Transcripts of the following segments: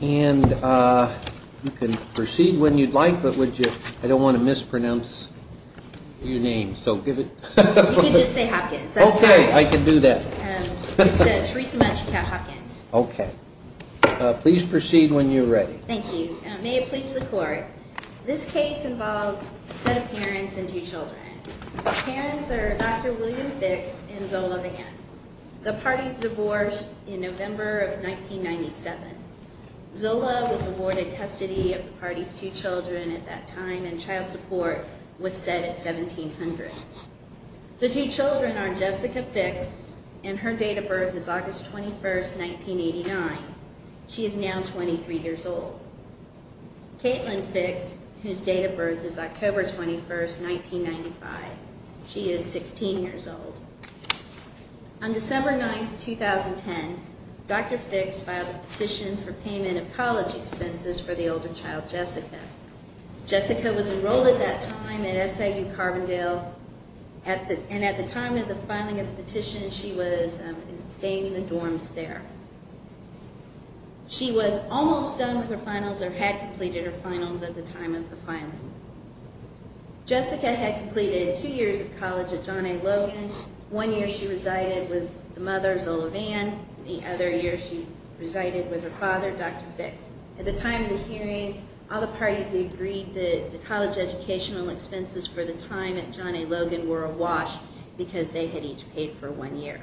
and you can proceed when you'd like but would you I don't want to mispronounce your name so give it okay I can do that okay please proceed when you're ready thank you may it please the court this case involves a set of parents and two children Zola was awarded custody of the party's two children at that time and child support was set at 1700 the two children are Jessica fix and her date of birth is August 21st 1989 she is now 23 years old Caitlin fix whose date of birth is October 21st 1995 she is 16 years old on payment of college expenses for the older child Jessica Jessica was enrolled at that time at SIU Carbondale at the and at the time of the filing of the petition she was staying in the dorms there she was almost done with her finals or had completed her finals at the time of the filing Jessica had completed two years of college at John A. Logan one year she resided with the and the other year she resided with her father dr. fix at the time of the hearing all the parties agreed that the college educational expenses for the time at John A. Logan were awash because they had each paid for one year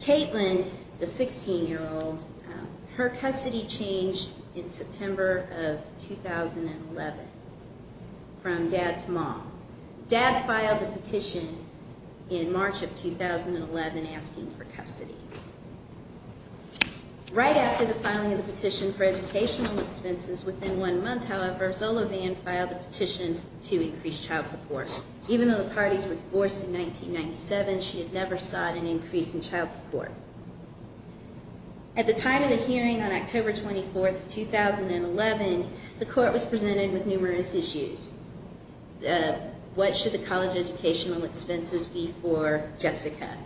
Caitlin the sixteen-year-old her custody changed in September of 2011 from dad to mom dad filed a petition in March of 2011 asking for custody right after the filing of the petition for educational expenses within one month however Zola Vann filed a petition to increase child support even though the parties were divorced in 1997 she had never sought an increase in child support at the time of the hearing on October 24th 2011 the court was presented with numerous issues what should the college educational expenses be for Jessica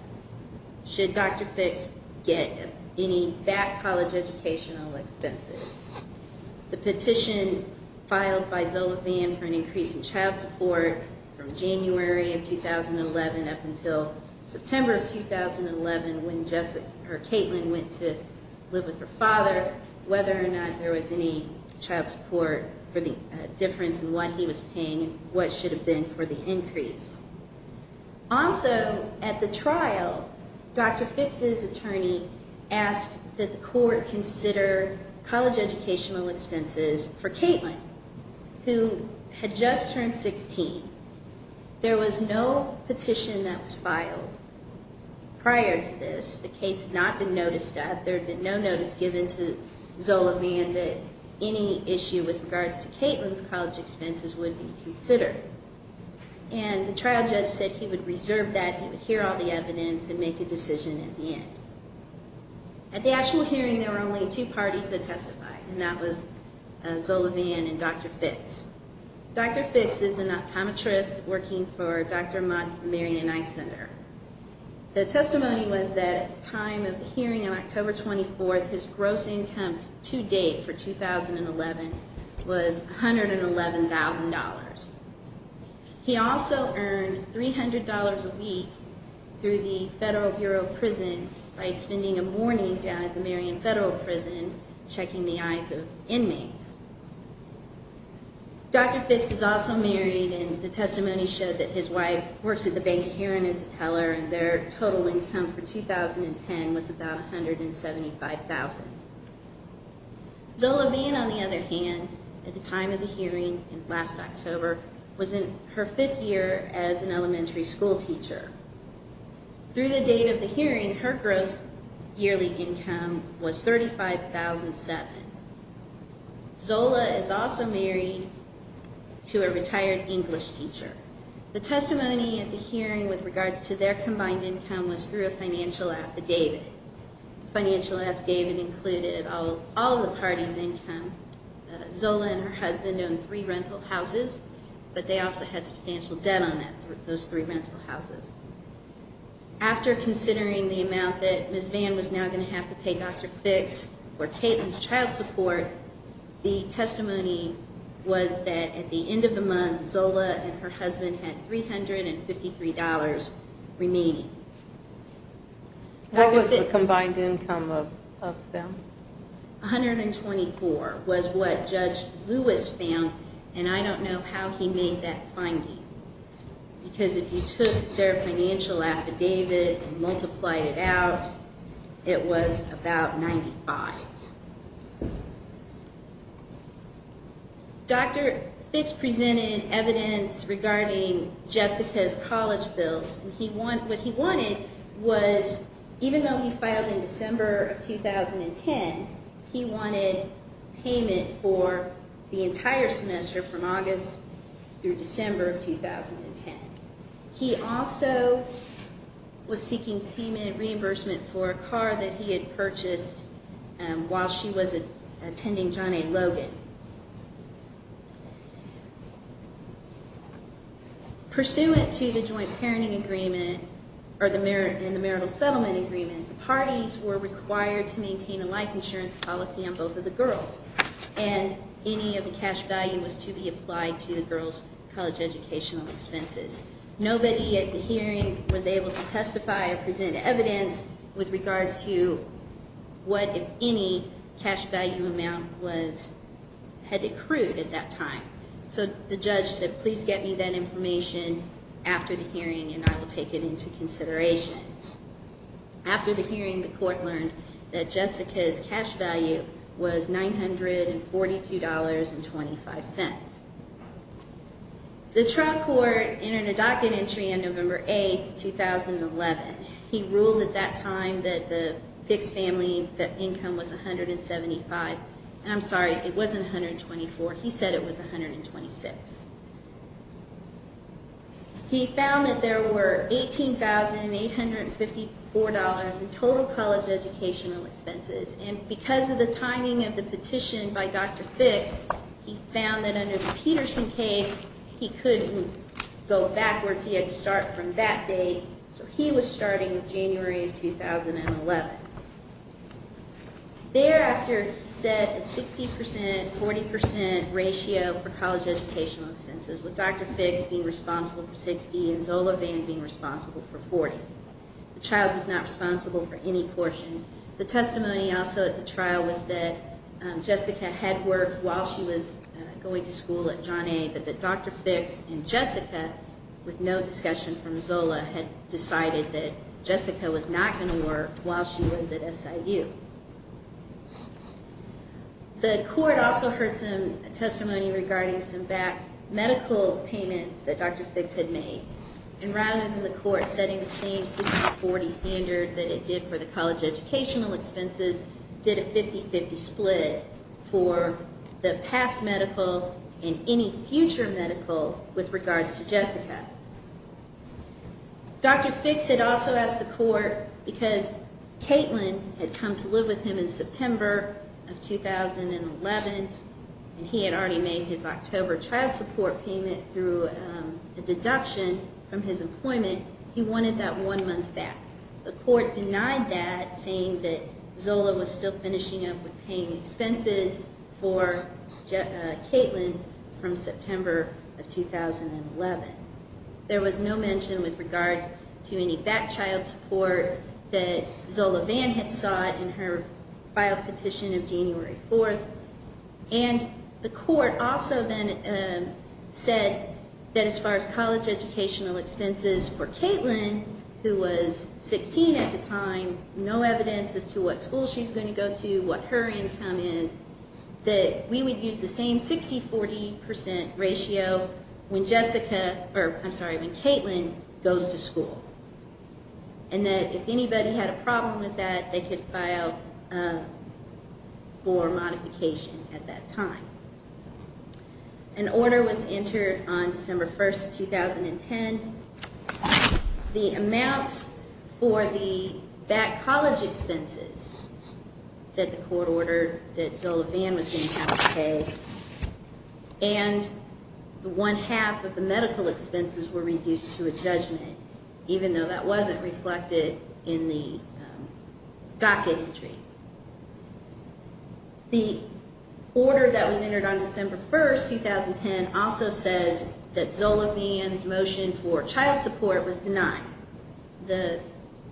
should dr. fix get any back college educational expenses the petition filed by Zola Vann for an increase in child support from January of 2011 up until September of 2011 when Jessica her Caitlin went to live with her father whether or not there was any child support for the difference in what he was paying what should have been for the increase also at the trial dr. fix is attorney asked that the court consider college educational expenses for Caitlin who had just turned 16 there was no petition that was filed prior to this the case not been noticed that there had been no notice given to Zola Vann that any issue with regards to Caitlin's college expenses would be considered and the trial judge said he would reserve that he would hear all the evidence and make a decision at the end at the actual hearing there were only two parties that testified and that was Zola Vann and dr. fix dr. fix is an optometrist working for dr. center the testimony was that at the time of the hearing on October 24th his gross income to date for 2011 was $111,000 he also earned $300 a week through the Federal Bureau of Prisons by spending a morning down at the Marion Federal Prison checking the eyes of inmates dr. fix is also married and the person the bank hearing is a teller and their total income for 2010 was about 175,000 Zola Vann on the other hand at the time of the hearing in last October was in her fifth year as an elementary school teacher through the date of the hearing her gross yearly income was thirty five thousand seven Zola is also married to a retired English teacher the testimony at the hearing with regards to their combined income was through a financial affidavit financial affidavit included all all the parties income Zola and her husband own three rental houses but they also had substantial debt on that those three rental houses after considering the amount that miss van was now going to have to pay dr. fix for testimony was that at the end of the month Zola and her husband had three hundred and fifty three dollars remaining that was a combined income of them 124 was what judge Lewis found and I don't know how he made that finding because if you took their financial affidavit and multiply it out it was about 95 dr. Fitz presented evidence regarding Jessica's college bills he wanted what he wanted was even though he filed in December 2010 he wanted payment for the entire semester from August through December 2010 he also was purchased and while she was attending Johnny Logan pursuant to the joint parenting agreement or the mirror in the marital settlement agreement parties were required to maintain a life insurance policy on both of the girls and any of the cash value was to be applied to the girls college educational expenses nobody at the hearing was able to what if any cash value amount was had accrued at that time so the judge said please get me that information after the hearing and I will take it into consideration after the hearing the court learned that Jessica's cash value was nine hundred and forty two dollars and twenty five cents the trial court entered a docket entry on November 8th 2011 he ruled at that time that the six family that income was a hundred and seventy five and I'm sorry it wasn't hundred twenty four he said it was a hundred and twenty six he found that there were eighteen thousand eight hundred and fifty four dollars in total college educational expenses and because of the timing of the petition by dr. Fitts he found that under the Peterson case he couldn't go backwards he had to start from that day so he was starting in January of 2011 there after said a 60% 40% ratio for college educational expenses with dr. Fitts being responsible for 60 and Zola being responsible for 40 the child was not responsible for any portion the testimony also at the trial was that Jessica had worked while she was going to school at John a but that dr. Fitts and Jessica with no discussion from Zola had decided that Jessica was not going to work while she was at SIU the court also heard some testimony regarding some back medical payments that dr. Fitts had made and rather than the court setting the same 40 standard that it did for the college educational expenses did a 50-50 split for the past medical in any future medical with regards to Jessica dr. Fitts had also asked the court because Caitlin had come to live with him in September of 2011 and he had already made his October child support payment through a deduction from his employment he wanted that one month back the court denied that saying that Zola was still finishing up with paying expenses for Caitlin from September of 2011 there was no mention with regards to any back child support that Zola van had sought in her file petition of January 4th and the court also then said that as far as who was 16 at the time no evidence as to what school she's going to go to what her income is that we would use the same 60 40 percent ratio when Jessica or I'm sorry when Caitlin goes to school and that if anybody had a problem with that they could file for modification at that time an order was entered on December 1st 2010 the amounts for the back college expenses that the court ordered that Zola van was going to have to pay and the one half of the medical expenses were reduced to a judgment even though that wasn't reflected in the docket entry the order that was entered on December 1st 2010 also says that Zola van's motion for child support was denied the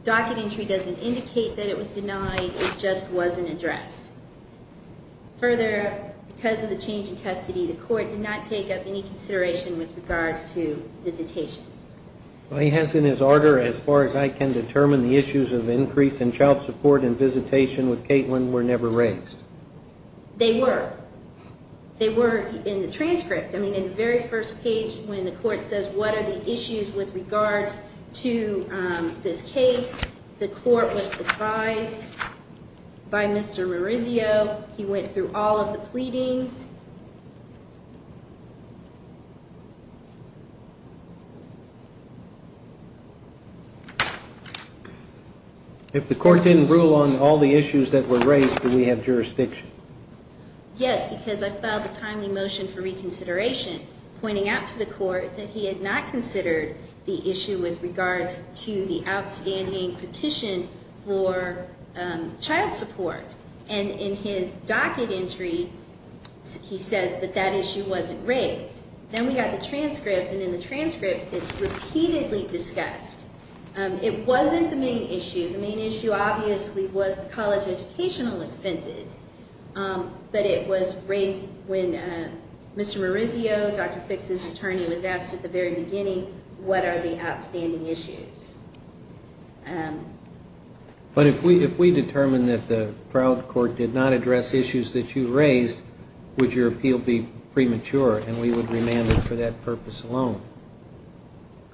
docket entry doesn't indicate that it was denied it just wasn't addressed further because of the change in custody the court did not take up any consideration with regards to visitation he has in his order as far as I can determine the issues of increase in child support and they were they were in the transcript I mean in the very first page when the court says what are the issues with regards to this case the court was advised by mr. Maurizio he went through all of the pleadings if the court didn't rule on all the issues that were raised do we have jurisdiction yes because I filed a timely motion for reconsideration pointing out to the court that he had not considered the issue with regards to the outstanding petition for child support and in his docket entry he says that that issue wasn't raised then we got the transcript and in the transcript it's repeatedly discussed it wasn't the main issue the main issue obviously was the college educational expenses but it was raised when mr. Maurizio dr. fix his attorney was asked at the very beginning what are the outstanding issues but if we if we determine that the proud court did not address issues that you raised would your appeal be premature and we would remain for that purpose alone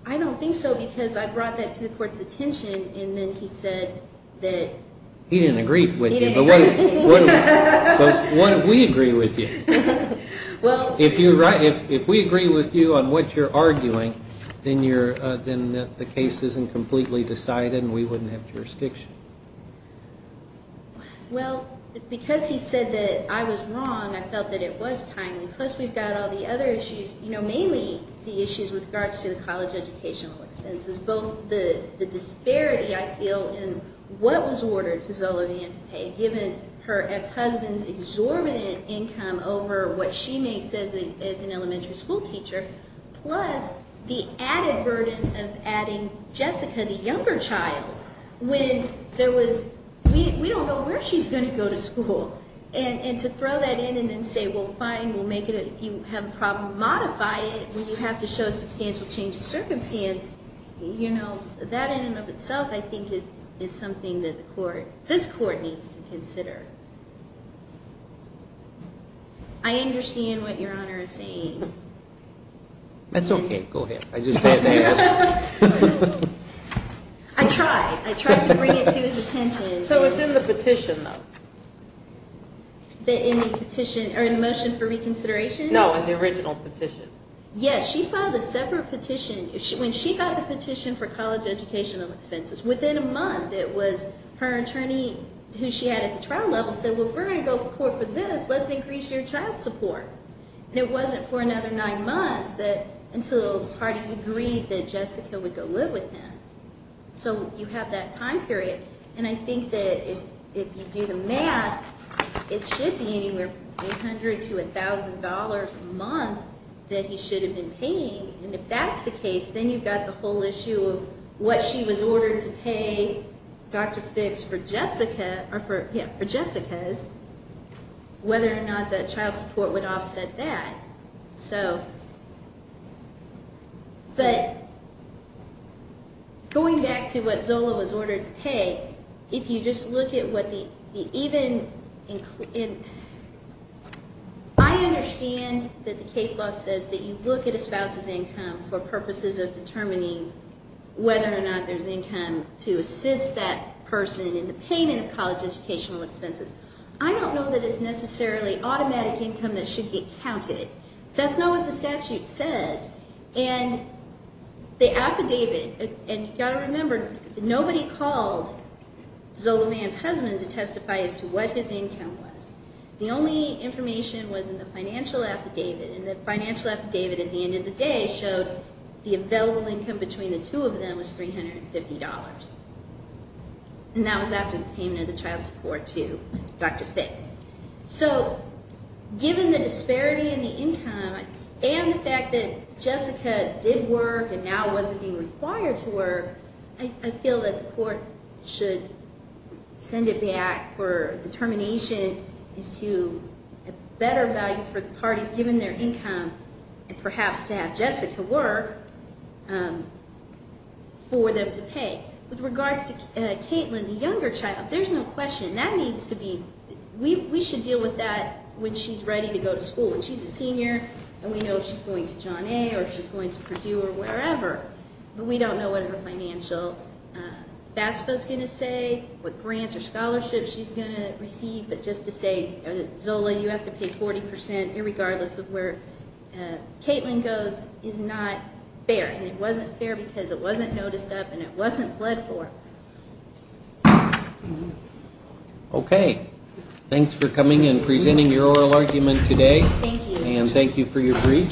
I don't think so because I brought that to the court's attention and then he said that he didn't agree with you but what if we agree with you well if you're right if we agree with you on what you're arguing then you're then the case isn't completely decided and we wouldn't have jurisdiction well because he said that I was wrong I felt that it was timely plus we've got all the other issues you know mainly the issues with regards to the college educational expenses both the the disparity I feel in what was ordered to Zola Vian to pay given her ex-husband's exorbitant income over what she makes as an elementary school teacher plus the added burden of adding Jessica the younger child when there was we don't know where she's going to go to school and and to throw that in and then say well fine we'll make it if you have a problem modify it when you have to show a substantial change of circumstance you know that in and of itself I think is is something that the court this court needs to attention so it's in the petition though the petition or the motion for reconsideration no in the original petition yes she filed a separate petition when she got the petition for college educational expenses within a month it was her attorney who she had at the trial level said well if we're going to go to court for this let's increase your child support and it wasn't for another nine months that until parties agreed that Jessica would go live with him so you have that time period and I think that if you do the math it should be anywhere from 800 to $1,000 a month that he should have been paying and if that's the case then you've got the whole issue of what she was ordered to pay dr. fix for Jessica or for him for Jessica's whether or not that child support would so but going back to what Zola was ordered to pay if you just look at what the even in I understand that the case law says that you look at a spouse's income for purposes of determining whether or not there's income to assist that person in the payment of college educational expenses I don't know that it's necessarily automatic income that should get counted it that's not what the statute says and the affidavit and you got to remember nobody called Zola man's husband to testify as to what his income was the only information was in the financial affidavit and the financial affidavit at the end of the day showed the available income between the two of them was $350 and that was after the payment of the child support to dr. fix so given the disparity in the income and the fact that Jessica did work and now wasn't being required to work I feel that the court should send it back for determination is to a better value for the parties given their income and perhaps to have Jessica work for them to pay with regards to Caitlin the younger child there's no question that needs to be we should deal with that when she's ready to go to school when she's a senior and we know she's going to John a or she's going to Purdue or wherever but we don't know what her financial FAFSA is going to say what grants or scholarships she's going to receive but just to say Zola you have to pay 40% irregardless of where Caitlin goes is not fair and it wasn't fair because it wasn't noticed up and it wasn't pledged for okay thanks for coming and presenting your oral argument today and thank you for your brief